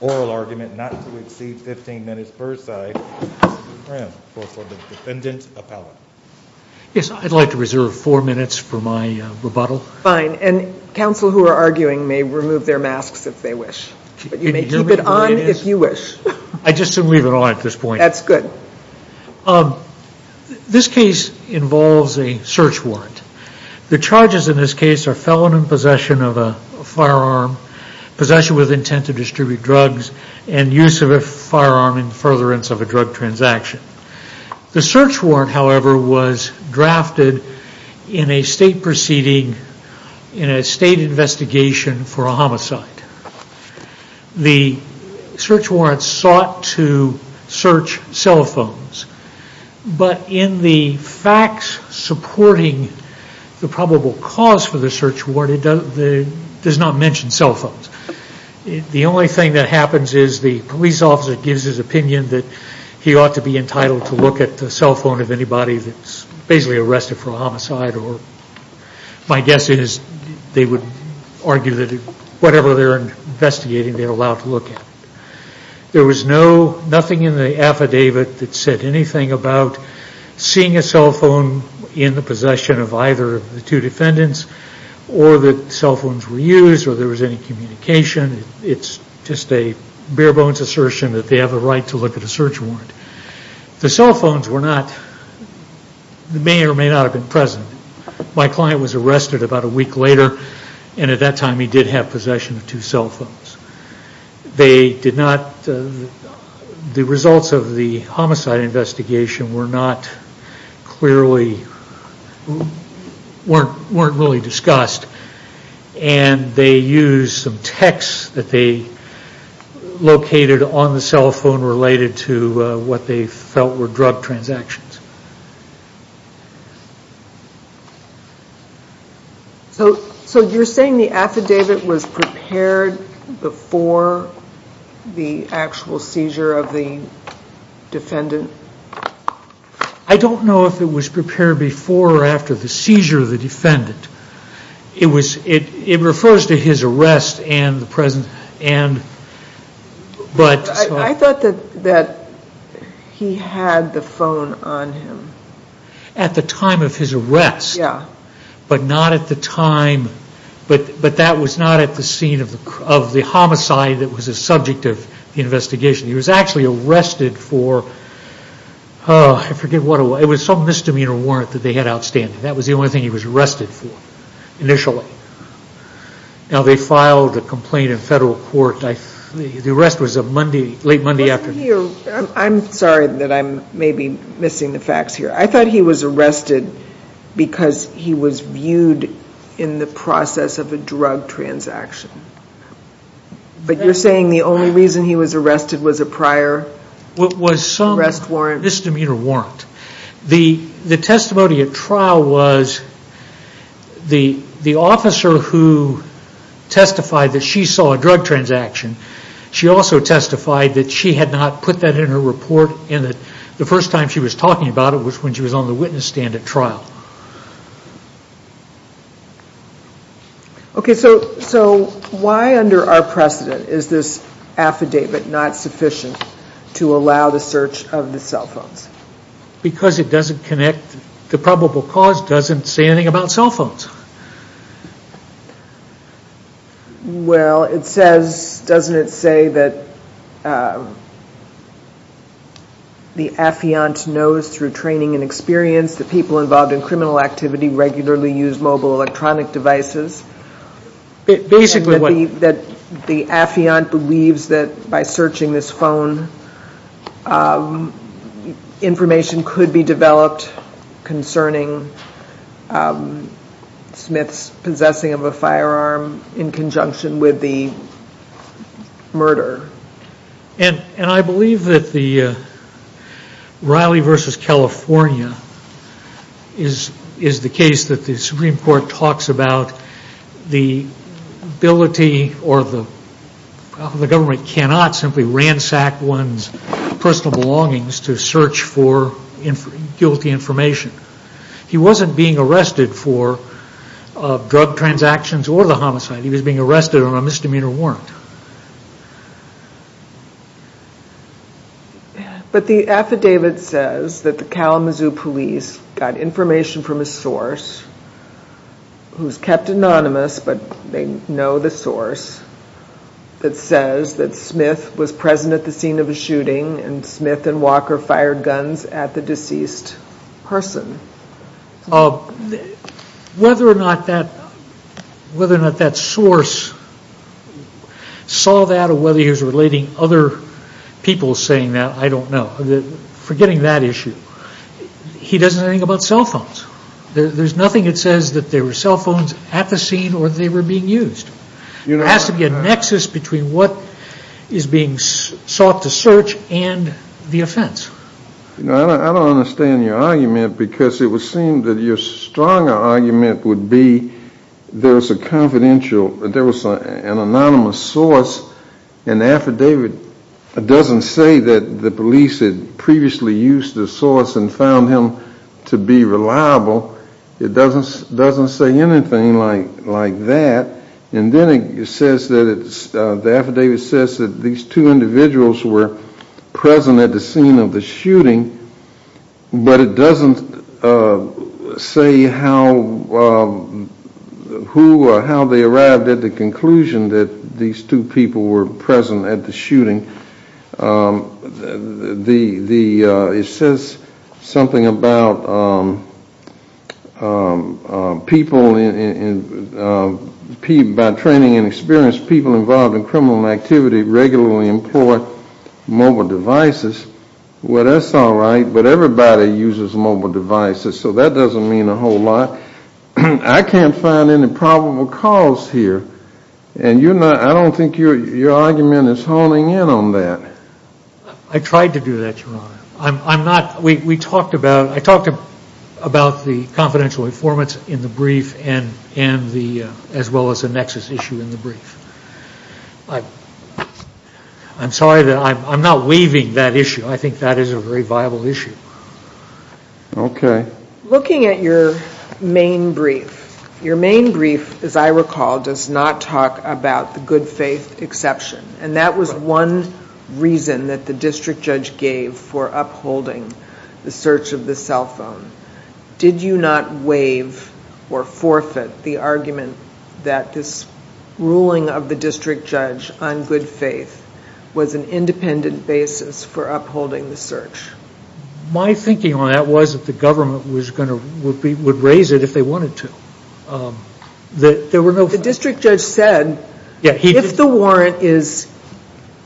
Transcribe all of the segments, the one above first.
oral argument not to exceed 15 minutes per side, for the defendant appellate. Yes, I'd like to reserve four minutes for my rebuttal. Fine, and counsel who are arguing may remove their masks if they wish. But you may keep it on if you wish. I just didn't leave it on at this point. It involves a search warrant. The charges in this case are felon in possession of a firearm, possession with intent to distribute drugs, and use of a firearm in furtherance of a drug transaction. The search warrant, however, was drafted in a state proceeding, in a state investigation for a homicide. The search warrant sought to search cell phones, but in the facts supporting the probable cause for the search warrant, it does not mention cell phones. The only thing that happens is the police officer gives his opinion that he ought to be entitled to look at the cell phone of anybody that's basically arrested for a homicide, or my guess is they would argue that whatever they're investigating, they're allowed to look at. There was nothing in the affidavit that said anything about seeing a cell phone in the possession of either of the two defendants, or that cell phones were used, or there was any communication. It's just a bare bones assertion that they have a right to look at a search warrant. The cell phones may or may not have been present. My client was arrested about a week later, and at that time he did have possession of two cell phones. They did not, the results of the homicide investigation were not clearly, weren't really discussed, and they used some text that they located on the cell phone related to what they felt were drug transactions. So you're saying the affidavit was prepared before the actual seizure of the defendant? I don't know if it was prepared before or after the seizure of the defendant. It refers to his arrest and the presence, but... I thought that he had the phone on him. At the time of his arrest, but not at the time, but that was not at the scene of the homicide that was the subject of the investigation. He was actually arrested for, I forget what it was, it was some misdemeanor warrant that they had outstanding. That was the only thing he was arrested for initially. Now they filed a complaint in federal court. The arrest was late Monday afternoon. I'm sorry that I'm maybe missing the facts here. I thought he was arrested because he was viewed in the process of a drug transaction. But you're saying the only reason he was arrested was a prior arrest warrant? It was some misdemeanor warrant. The testimony at trial was the officer who testified that she saw a drug transaction. She also testified that she had not put that in her report and that the first time she was talking about it was when she was on the witness stand at trial. Okay, so why under our precedent is this affidavit not sufficient to allow the search of the cell phones? Because it doesn't connect, the probable cause doesn't say anything about cell phones. Well, it says, doesn't it say that the affiant knows through training and experience that people involved in criminal activity regularly use mobile electronic devices? Basically what? That the affiant believes that by searching this phone, information could be developed concerning Smith's possessing of a firearm in conjunction with the murder. And I believe that the Riley v. California is the case that the Supreme Court talks about the ability or the government cannot simply ransack one's personal belongings to search for guilty information. He wasn't being arrested for drug transactions or the homicide. He was being arrested on a misdemeanor warrant. But the affidavit says that the Kalamazoo police got information from a source who is kept anonymous but they know the source. It says that Smith was present at the scene of the shooting and Smith and Walker fired guns at the deceased person. Whether or not that source saw that or whether he was relating other people saying that, I don't know. Forgetting that issue, he doesn't know anything about cell phones. There's nothing that says that there were cell phones at the scene or that they were being used. There has to be a nexus between what is being sought to search and the offense. I don't understand your argument because it would seem that your stronger argument would be there was an anonymous source and the affidavit doesn't say that the police had previously used the source and found him to be reliable. It doesn't say anything like that. Then the affidavit says that these two individuals were present at the scene of the shooting but it doesn't say how they arrived at the conclusion It says something about people, by training and experience, people involved in criminal activity regularly employ mobile devices. Well, that's all right, but everybody uses mobile devices so that doesn't mean a whole lot. I can't find any probable cause here and I don't think your argument is honing in on that. I tried to do that, Your Honor. I talked about the confidential informants in the brief as well as the nexus issue in the brief. I'm sorry that I'm not waiving that issue. I think that is a very viable issue. Okay. Looking at your main brief, your main brief, as I recall, does not talk about the good faith exception and that was one reason that the district judge gave for upholding the search of the cell phone. Did you not waive or forfeit the argument that this ruling of the district judge on good faith was an independent basis for upholding the search? My thinking on that was that the government would raise it if they wanted to. The district judge said, if the warrant is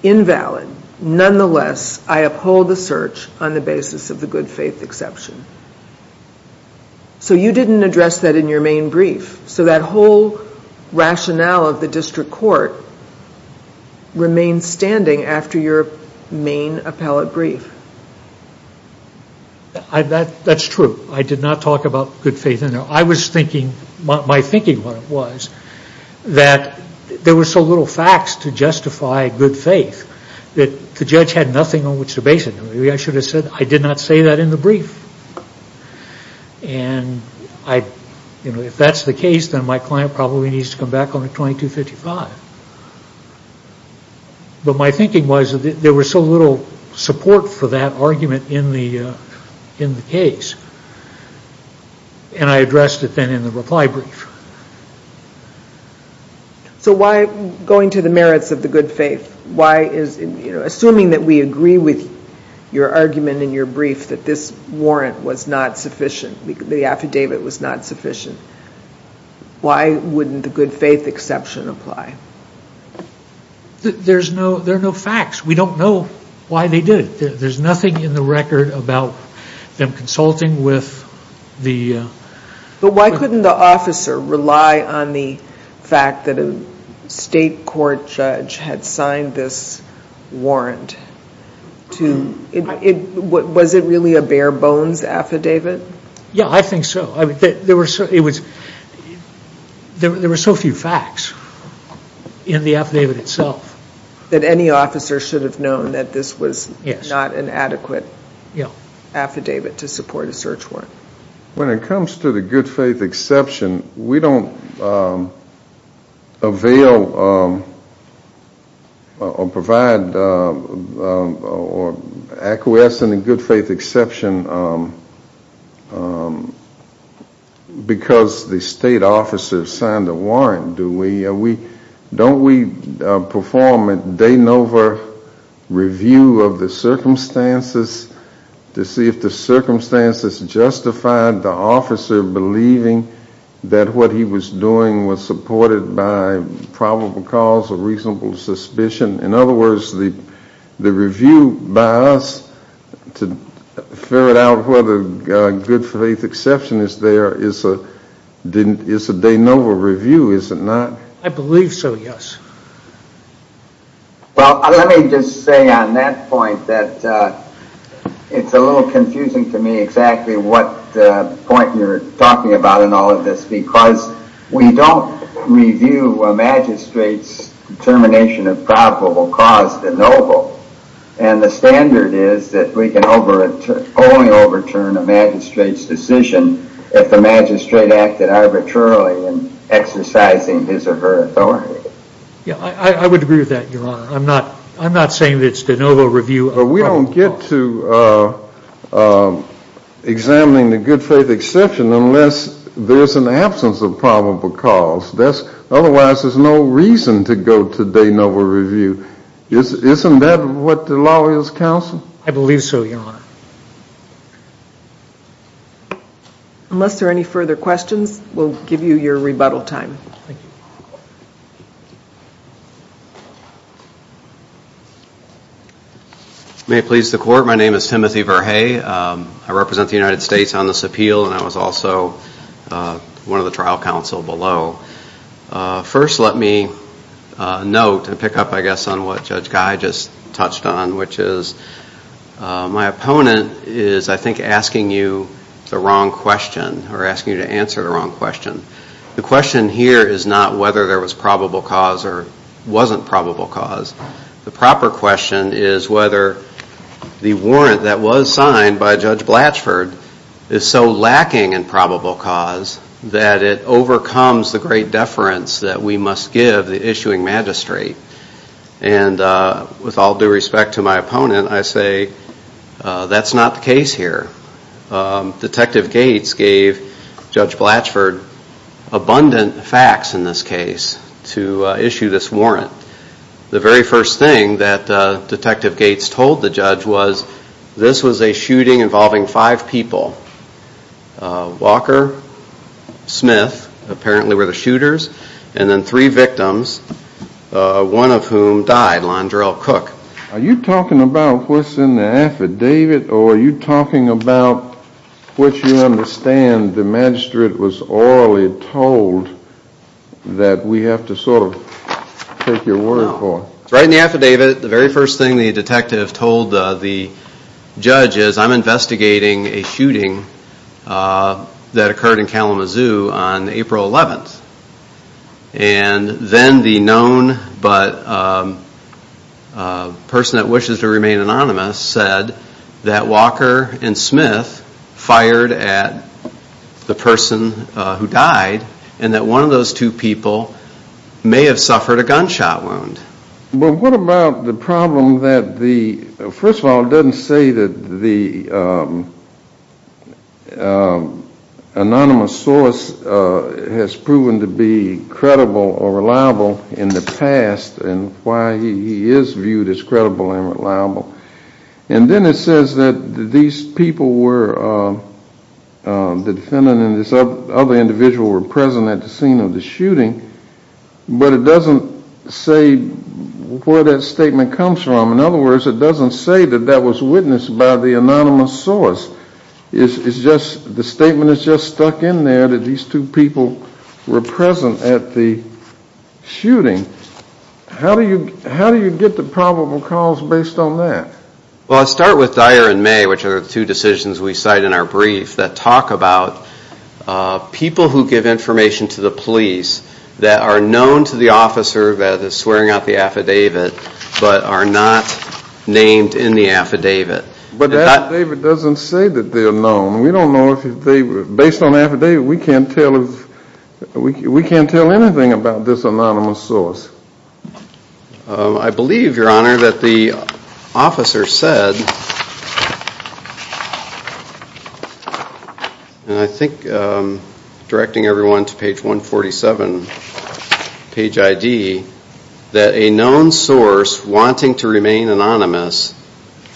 invalid, nonetheless I uphold the search on the basis of the good faith exception. So you didn't address that in your main brief. So that whole rationale of the district court remains standing after your main appellate brief. That's true. I did not talk about good faith in there. I was thinking, my thinking was, that there were so little facts to justify good faith that the judge had nothing on which to base it. And if that's the case, then my client probably needs to come back on the 2255. But my thinking was that there was so little support for that argument in the case. And I addressed it then in the reply brief. So why, going to the merits of the good faith, why is, assuming that we agree with your argument in your brief that this warrant was not sufficient, the affidavit was not sufficient, why wouldn't the good faith exception apply? There are no facts. We don't know why they did it. There's nothing in the record about them consulting with the... But why couldn't the officer rely on the fact that a state court judge had signed this warrant? Was it really a bare bones affidavit? Yeah, I think so. There were so few facts in the affidavit itself that any officer should have known that this was not an adequate affidavit to support a search warrant. When it comes to the good faith exception, we don't avail or provide or acquiesce in the good faith exception because the state officer signed the warrant, do we? Don't we perform a de novo review of the circumstances to see if the circumstances justified the officer believing that what he was doing was supported by probable cause or reasonable suspicion? In other words, the review by us to ferret out whether good faith exception is there is a de novo review, is it not? I believe so, yes. Well, let me just say on that point that it's a little confusing to me exactly what point you're talking about in all of this because we don't review a magistrate's determination of probable cause de novo and the standard is that we can only overturn a magistrate's decision if the magistrate acted arbitrarily in exercising his or her authority. Yeah, I would agree with that, Your Honor. I'm not saying that it's de novo review of probable cause. But we don't get to examining the good faith exception unless there's an absence of probable cause. Otherwise, there's no reason to go to de novo review. Isn't that what the law is, counsel? I believe so, Your Honor. Unless there are any further questions, we'll give you your rebuttal time. May it please the court, my name is Timothy Verhey. I represent the United States on this appeal and I was also one of the trial counsel below. First, let me note and pick up, I guess, on what Judge Guy just touched on which is my opponent is, I think, asking you the wrong question or asking you to answer the wrong question. The question here is not whether there was probable cause or wasn't probable cause. The proper question is whether the warrant that was signed by Judge Blatchford is so lacking in probable cause that it overcomes the great deference that we must give the issuing magistrate. And with all due respect to my opponent, I say that's not the case here. Detective Gates gave Judge Blatchford abundant facts in this case to issue this warrant. The very first thing that Detective Gates told the judge was this was a shooting involving five people. Walker, Smith, apparently were the shooters, and then three victims, one of whom died, Londrell Cook. Are you talking about what's in the affidavit or are you talking about what you understand the magistrate was orally told that we have to sort of take your word for? No. Right in the affidavit, the very first thing the detective told the judge is I'm investigating a shooting that occurred in Kalamazoo on April 11th. And then the known but person that wishes to remain anonymous said that Walker and Smith fired at the person who died and that one of those two people may have suffered a gunshot wound. But what about the problem that the, first of all, it doesn't say that the anonymous source has proven to be credible or reliable in the past and why he is viewed as credible and reliable. And then it says that these people were, the defendant and this other individual were present at the scene of the shooting. But it doesn't say where that statement comes from. In other words, it doesn't say that that was witnessed by the anonymous source. It's just, the statement is just stuck in there that these two people were present at the shooting. How do you get the probable cause based on that? Well, I start with Dyer and May, which are the two decisions we cite in our brief that talk about people who give information to the police that are known to the officer that is swearing out the affidavit but are not named in the affidavit. But the affidavit doesn't say that they're known. We don't know if they, based on the affidavit, we can't tell anything about this anonymous source. I believe, Your Honor, that the officer said, and I think directing everyone to page 147, page ID, that a known source wanting to remain anonymous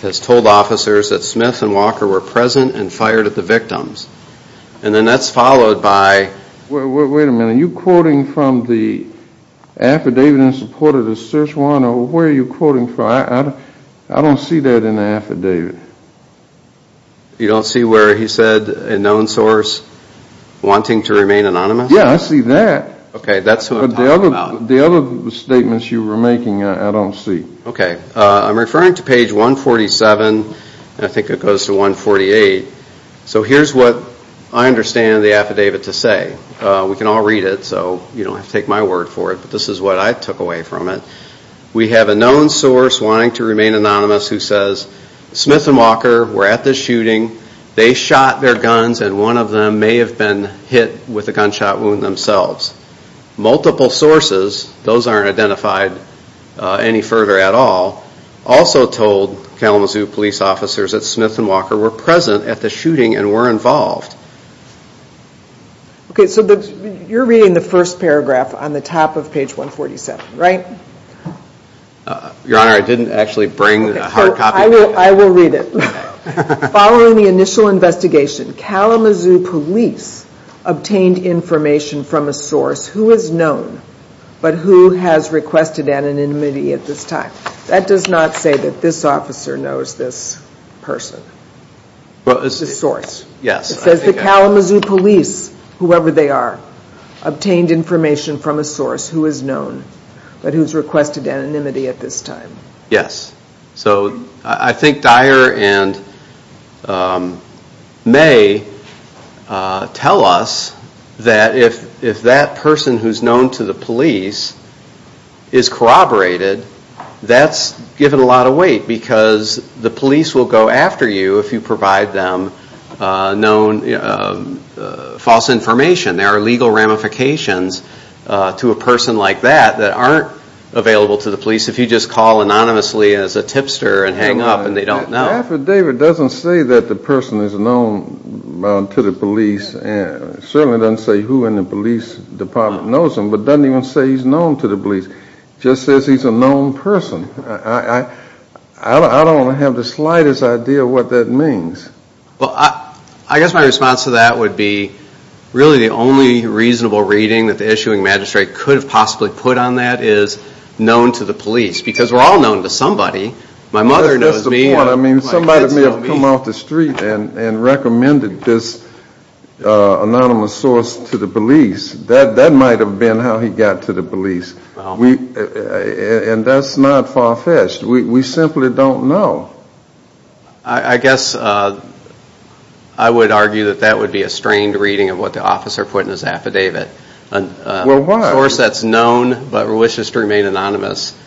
has told officers that Smith and Walker were present and fired at the victims. And then that's followed by... Wait a minute, are you quoting from the affidavit in support of the search warrant or where are you quoting from? I don't see that in the affidavit. You don't see where he said a known source wanting to remain anonymous? Yeah, I see that. Okay, that's what I'm talking about. The other statements you were making, I don't see. Okay, I'm referring to page 147, and I think it goes to 148. So here's what I understand the affidavit to say. We can all read it, so you don't have to take my word for it, but this is what I took away from it. We have a known source wanting to remain anonymous who says, Smith and Walker were at the shooting, they shot their guns, and one of them may have been hit with a gunshot wound themselves. Multiple sources, those aren't identified any further at all, also told Kalamazoo police officers that Smith and Walker were present at the shooting and were involved. Okay, so you're reading the first paragraph on the top of page 147, right? Your Honor, I didn't actually bring a hard copy. I will read it. Following the initial investigation, Kalamazoo police obtained information from a source who is known but who has requested anonymity at this time. That does not say that this officer knows this person, this source. It says the Kalamazoo police, whoever they are, obtained information from a source who is known but who has requested anonymity at this time. Yes. So I think Dyer and May tell us that if that person who is known to the police is corroborated, that's given a lot of weight because the police will go after you if you provide them false information. There are legal ramifications to a person like that that aren't available to the police if you just call anonymously as a tipster and hang up and they don't know. The affidavit doesn't say that the person is known to the police. It certainly doesn't say who in the police department knows him, but it doesn't even say he's known to the police. It just says he's a known person. I don't have the slightest idea what that means. Well, I guess my response to that would be really the only reasonable reading that the issuing magistrate could have possibly put on that is known to the police because we're all known to somebody. My mother knows me. That's the point. Somebody may have come off the street and recommended this anonymous source to the police. That might have been how he got to the police. And that's not far-fetched. We simply don't know. I guess I would argue that that would be a strained reading of what the officer put in his affidavit. A source that's known but wishes to remain anonymous,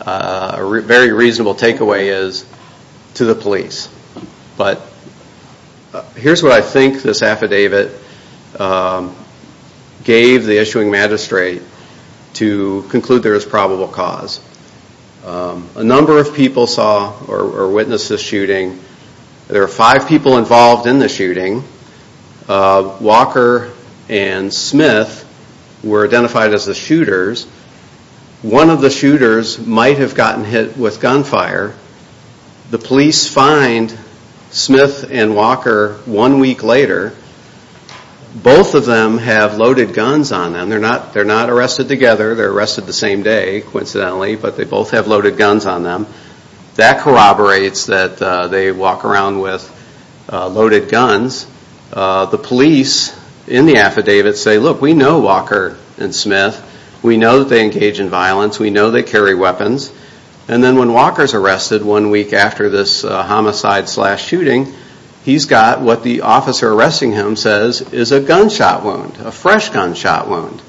a very reasonable takeaway is to the police. But here's what I think this affidavit gave the issuing magistrate to conclude there is probable cause. A number of people saw or witnessed this shooting. There were five people involved in the shooting. Walker and Smith were identified as the shooters. One of the shooters might have gotten hit with gunfire. The police find Smith and Walker one week later. Both of them have loaded guns on them. They're not arrested together. They're arrested the same day, coincidentally, but they both have loaded guns on them. That corroborates that they walk around with loaded guns. The police in the affidavit say, Look, we know Walker and Smith. We know that they engage in violence. We know they carry weapons. And then when Walker's arrested one week after this homicide-slash-shooting, he's got what the officer arresting him says is a gunshot wound, a fresh gunshot wound.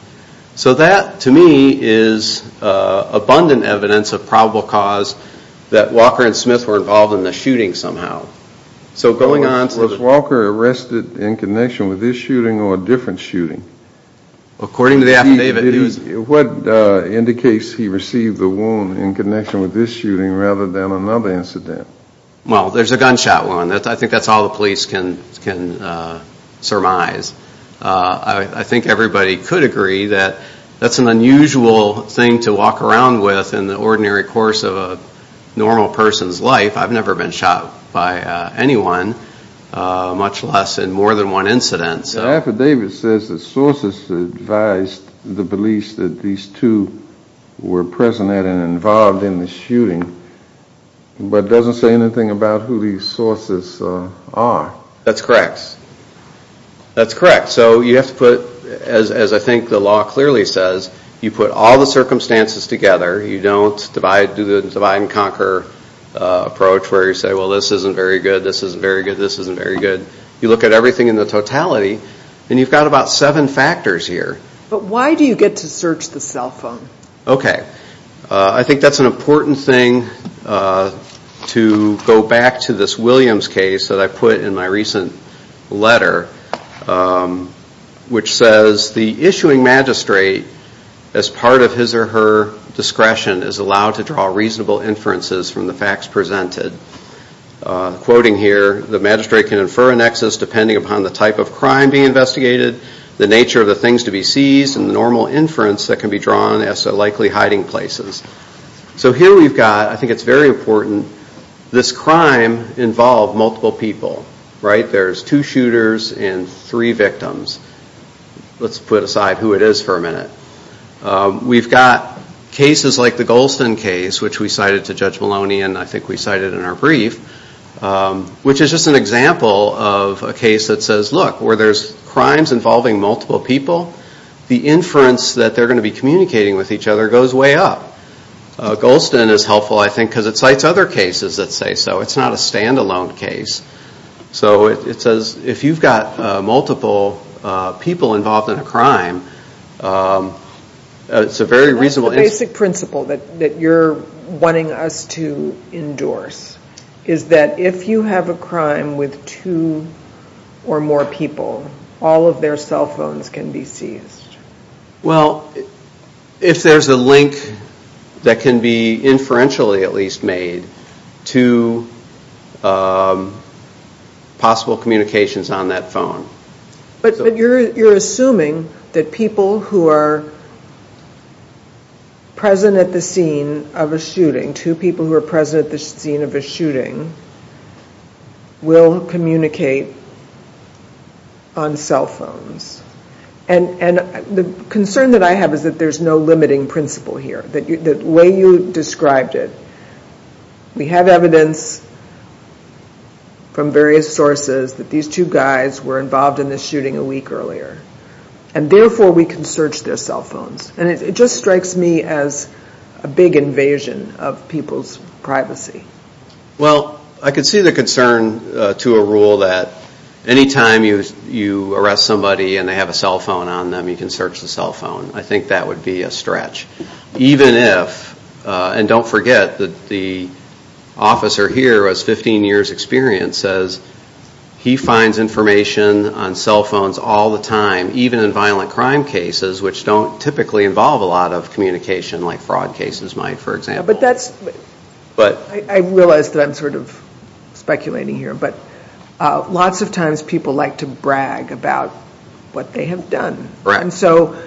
So that, to me, is abundant evidence of probable cause that Walker and Smith were involved in the shooting somehow. So going on to the... Was Walker arrested in connection with this shooting or a different shooting? According to the affidavit, he was... What indicates he received the wound in connection with this shooting rather than another incident? Well, there's a gunshot wound. I think that's all the police can surmise. I think everybody could agree that that's an unusual thing to walk around with in the ordinary course of a normal person's life. I've never been shot by anyone, much less in more than one incident. The affidavit says that sources advised the police that these two were present and involved in the shooting, but it doesn't say anything about who these sources are. That's correct. That's correct. So you have to put, as I think the law clearly says, you put all the circumstances together. You don't do the divide-and-conquer approach where you say, well, this isn't very good, this isn't very good, this isn't very good. You look at everything in the totality, and you've got about seven factors here. But why do you get to search the cell phone? Okay. I think that's an important thing to go back to this Williams case that I put in my recent letter, which says, the issuing magistrate, as part of his or her discretion, is allowed to draw reasonable inferences from the facts presented. Quoting here, the magistrate can infer a nexus depending upon the type of crime being investigated, the nature of the things to be seized, and the normal inference that can be drawn as to likely hiding places. So here we've got, I think it's very important, this crime involved multiple people. There's two shooters and three victims. Let's put aside who it is for a minute. We've got cases like the Golston case, which we cited to Judge Maloney, and I think we cited in our brief, which is just an example of a case that says, look, where there's crimes involving multiple people, the inference that they're going to be communicating with each other goes way up. Golston is helpful, I think, because it cites other cases that say so. It's not a standalone case. So it says, if you've got multiple people involved in a crime, it's a very reasonable inference. The basic principle that you're wanting us to endorse is that if you have a crime with two or more people, all of their cell phones can be seized. Well, if there's a link that can be inferentially at least made to possible communications on that phone. But you're assuming that people who are present at the scene of a shooting, two people who are present at the scene of a shooting, will communicate on cell phones. And the concern that I have is that there's no limiting principle here, the way you described it. We have evidence from various sources that these two guys were involved in this shooting a week earlier. And therefore, we can search their cell phones. And it just strikes me as a big invasion of people's privacy. Well, I can see the concern to a rule that any time you arrest somebody and they have a cell phone on them, you can search the cell phone. I think that would be a stretch. Even if, and don't forget that the officer here has 15 years' experience, says he finds information on cell phones all the time, even in violent crime cases, which don't typically involve a lot of communication, like fraud cases might, for example. I realize that I'm sort of speculating here, but lots of times people like to brag about what they have done. And so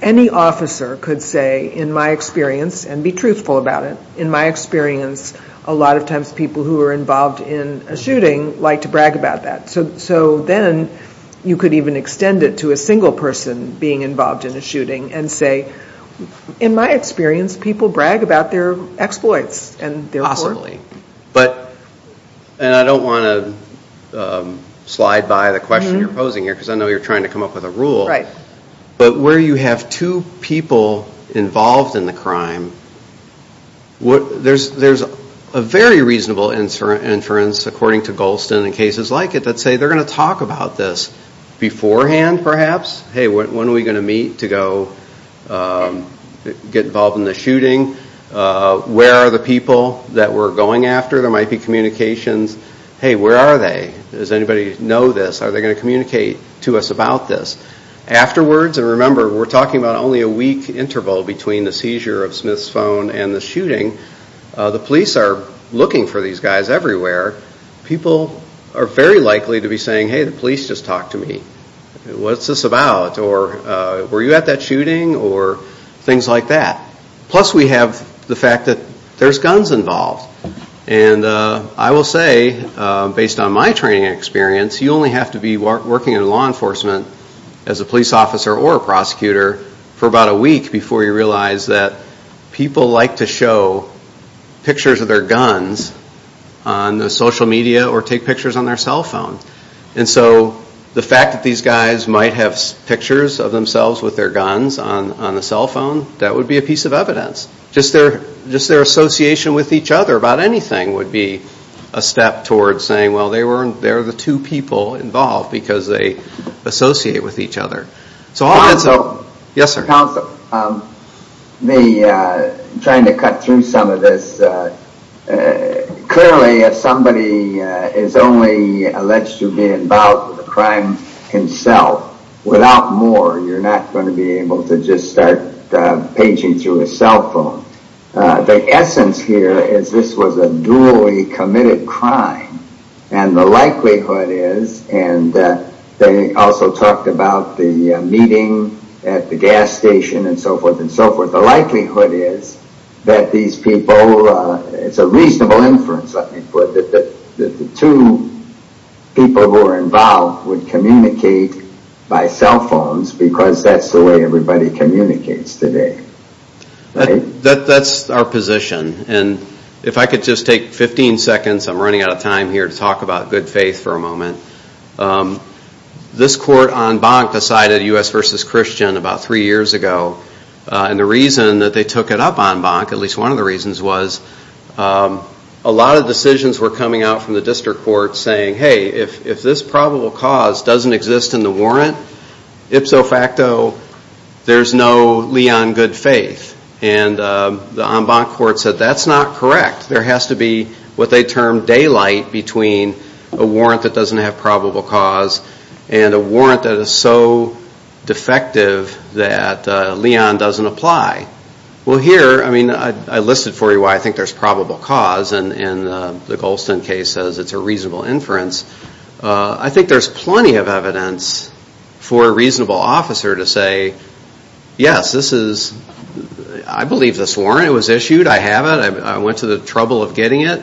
any officer could say, in my experience, and be truthful about it, in my experience, a lot of times people who are involved in a shooting like to brag about that. So then you could even extend it to a single person being involved in a shooting and say, in my experience, people brag about their exploits. Possibly. And I don't want to slide by the question you're posing here, because I know you're trying to come up with a rule. But where you have two people involved in the crime, there's a very reasonable inference, according to Golston, in cases like it, that say they're going to talk about this beforehand, perhaps. Hey, when are we going to meet to go get involved in the shooting? Where are the people that we're going after? There might be communications. Hey, where are they? Does anybody know this? Are they going to communicate to us about this? Afterwards, and remember, we're talking about only a week interval between the seizure of Smith's phone and the shooting. The police are looking for these guys everywhere. People are very likely to be saying, hey, the police just talked to me. What's this about? Were you at that shooting? Or things like that. Plus we have the fact that there's guns involved. And I will say, based on my training experience, you only have to be working in law enforcement as a police officer or a prosecutor for about a week before you realize that people like to show pictures of their guns on social media or take pictures on their cell phone. And so the fact that these guys might have pictures of themselves with their guns on the cell phone, that would be a piece of evidence. Just their association with each other about anything would be a step towards saying, well, they're the two people involved because they associate with each other. Counsel? Yes, sir. Counsel, I'm trying to cut through some of this. Clearly, if somebody is only alleged to be involved with a crime himself, without more, you're not going to be able to just start paging through a cell phone. The essence here is this was a dually committed crime. And the likelihood is, and they also talked about the meeting at the gas station and so forth and so forth, the likelihood is that these people, it's a reasonable inference, let me put it, that the two people who are involved would communicate by cell phones because that's the way everybody communicates today. That's our position. And if I could just take 15 seconds, I'm running out of time here, to talk about good faith for a moment. This court en banc decided, U.S. v. Christian, about three years ago. And the reason that they took it up en banc, at least one of the reasons was, a lot of decisions were coming out from the district court saying, hey, if this probable cause doesn't exist in the warrant, ipso facto, there's no lee on good faith. And the en banc court said, that's not correct. There has to be what they term daylight between a warrant that doesn't have probable cause and a warrant that is so defective that lee on doesn't apply. Well, here, I mean, I listed for you why I think there's probable cause and the Golston case says it's a reasonable inference. I think there's plenty of evidence for a reasonable officer to say, yes, this is, I believe this warrant was issued, I have it, I went to the trouble of getting it,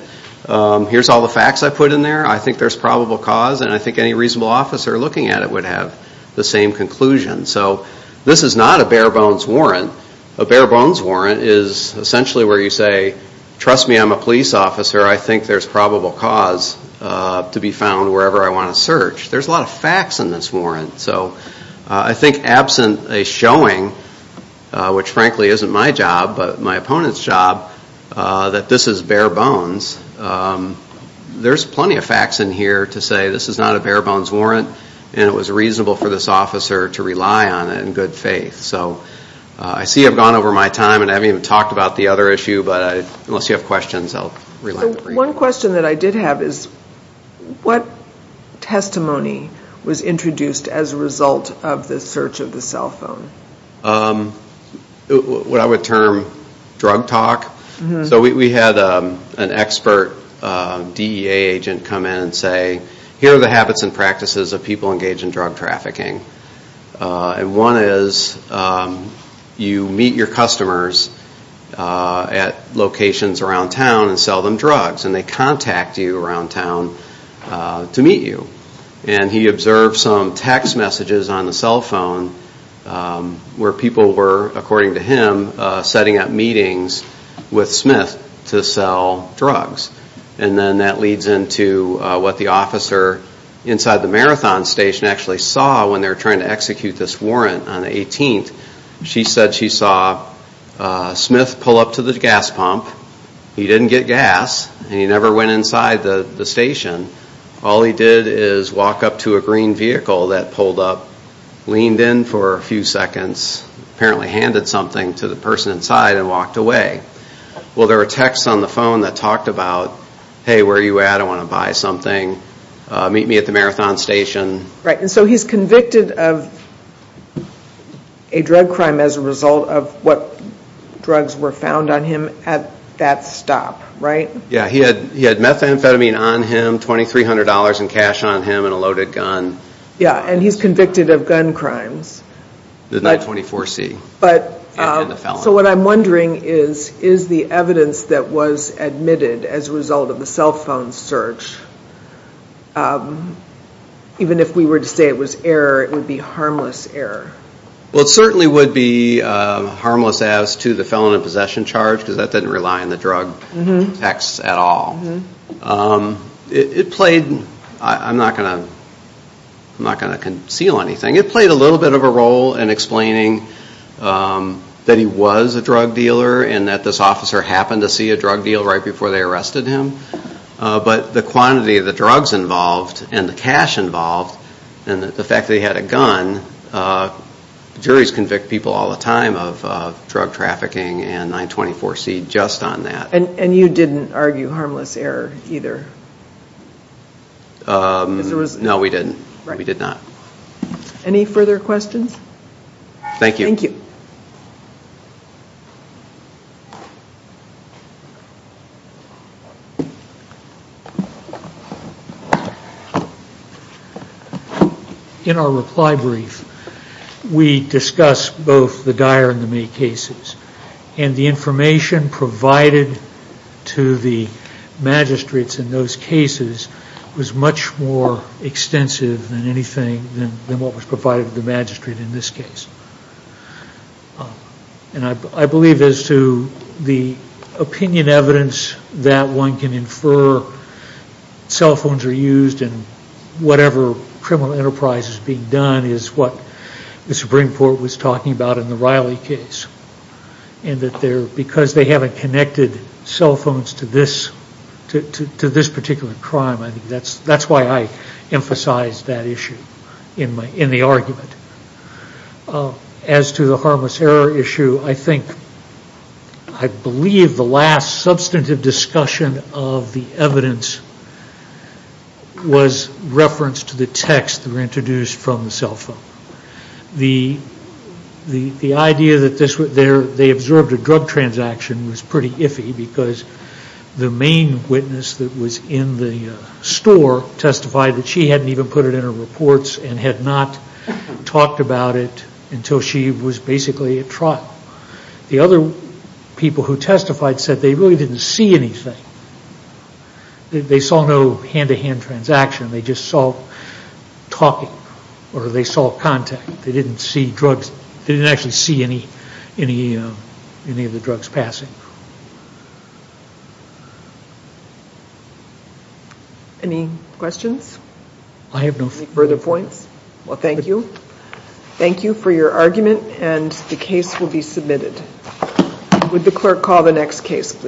here's all the facts I put in there, I think there's probable cause, and I think any reasonable officer looking at it would have the same conclusion. So this is not a bare bones warrant. A bare bones warrant is essentially where you say, trust me, I'm a police officer, I think there's probable cause to be found wherever I want to search. There's a lot of facts in this warrant. So I think absent a showing, which frankly isn't my job, but my opponent's job, that this is bare bones, there's plenty of facts in here to say this is not a bare bones warrant and it was reasonable for this officer to rely on it in good faith. So I see I've gone over my time and I haven't even talked about the other issue, but unless you have questions, I'll rely on the brief. One question that I did have is what testimony was introduced as a result of the search of the cell phone? What I would term drug talk. So we had an expert DEA agent come in and say, here are the habits and practices of people engaged in drug trafficking. And one is you meet your customers at locations around town and sell them drugs and they contact you around town to meet you. And he observed some text messages on the cell phone where people were, according to him, setting up meetings with Smith to sell drugs. And then that leads into what the officer inside the marathon station actually saw when they were trying to execute this warrant on the 18th. She said she saw Smith pull up to the gas pump. He didn't get gas and he never went inside the station. All he did is walk up to a green vehicle that pulled up, leaned in for a few seconds, apparently handed something to the person inside and walked away. Well, there were texts on the phone that talked about, hey, where are you at? I want to buy something. Meet me at the marathon station. Right, and so he's convicted of a drug crime as a result of what drugs were found on him at that stop, right? Yeah, he had methamphetamine on him, $2,300 in cash on him, and a loaded gun. Yeah, and he's convicted of gun crimes. The 924C and the felon. So what I'm wondering is, is the evidence that was admitted as a result of the cell phone search, even if we were to say it was error, it would be harmless error? Well, it certainly would be harmless as to the felon in possession charge because that didn't rely on the drug texts at all. It played, I'm not going to conceal anything, it played a little bit of a role in explaining that he was a drug dealer and that this officer happened to see a drug deal right before they arrested him, but the quantity of the drugs involved and the cash involved and the fact that he had a gun, juries convict people all the time of drug trafficking and 924C just on that. And you didn't argue harmless error either? No, we didn't. We did not. Any further questions? Thank you. In our reply brief, we discuss both the Geyer and the May cases. And the information provided to the magistrates in those cases was much more extensive than anything than what was provided to the magistrate in this case. And I believe as to the opinion evidence that one can infer cell phones are used in whatever criminal enterprise is being done is what the Supreme Court was talking about in the Riley case. And that because they haven't connected cell phones to this particular crime, that's why I emphasized that issue in the argument. As to the harmless error issue, I think, I believe the last substantive discussion of the evidence was reference to the text that were introduced from the cell phone. The idea that they observed a drug transaction was pretty iffy because the main witness that was in the store testified that she hadn't even put it in her reports and had not talked about it until she was basically at trial. The other people who testified said they really didn't see anything. They saw no hand-to-hand transaction. They just saw talking or they saw contact. They didn't actually see any of the drugs passing. Any questions? I have no further points. Well, thank you. Thank you for your argument, and the case will be submitted. Would the clerk call the next case, please?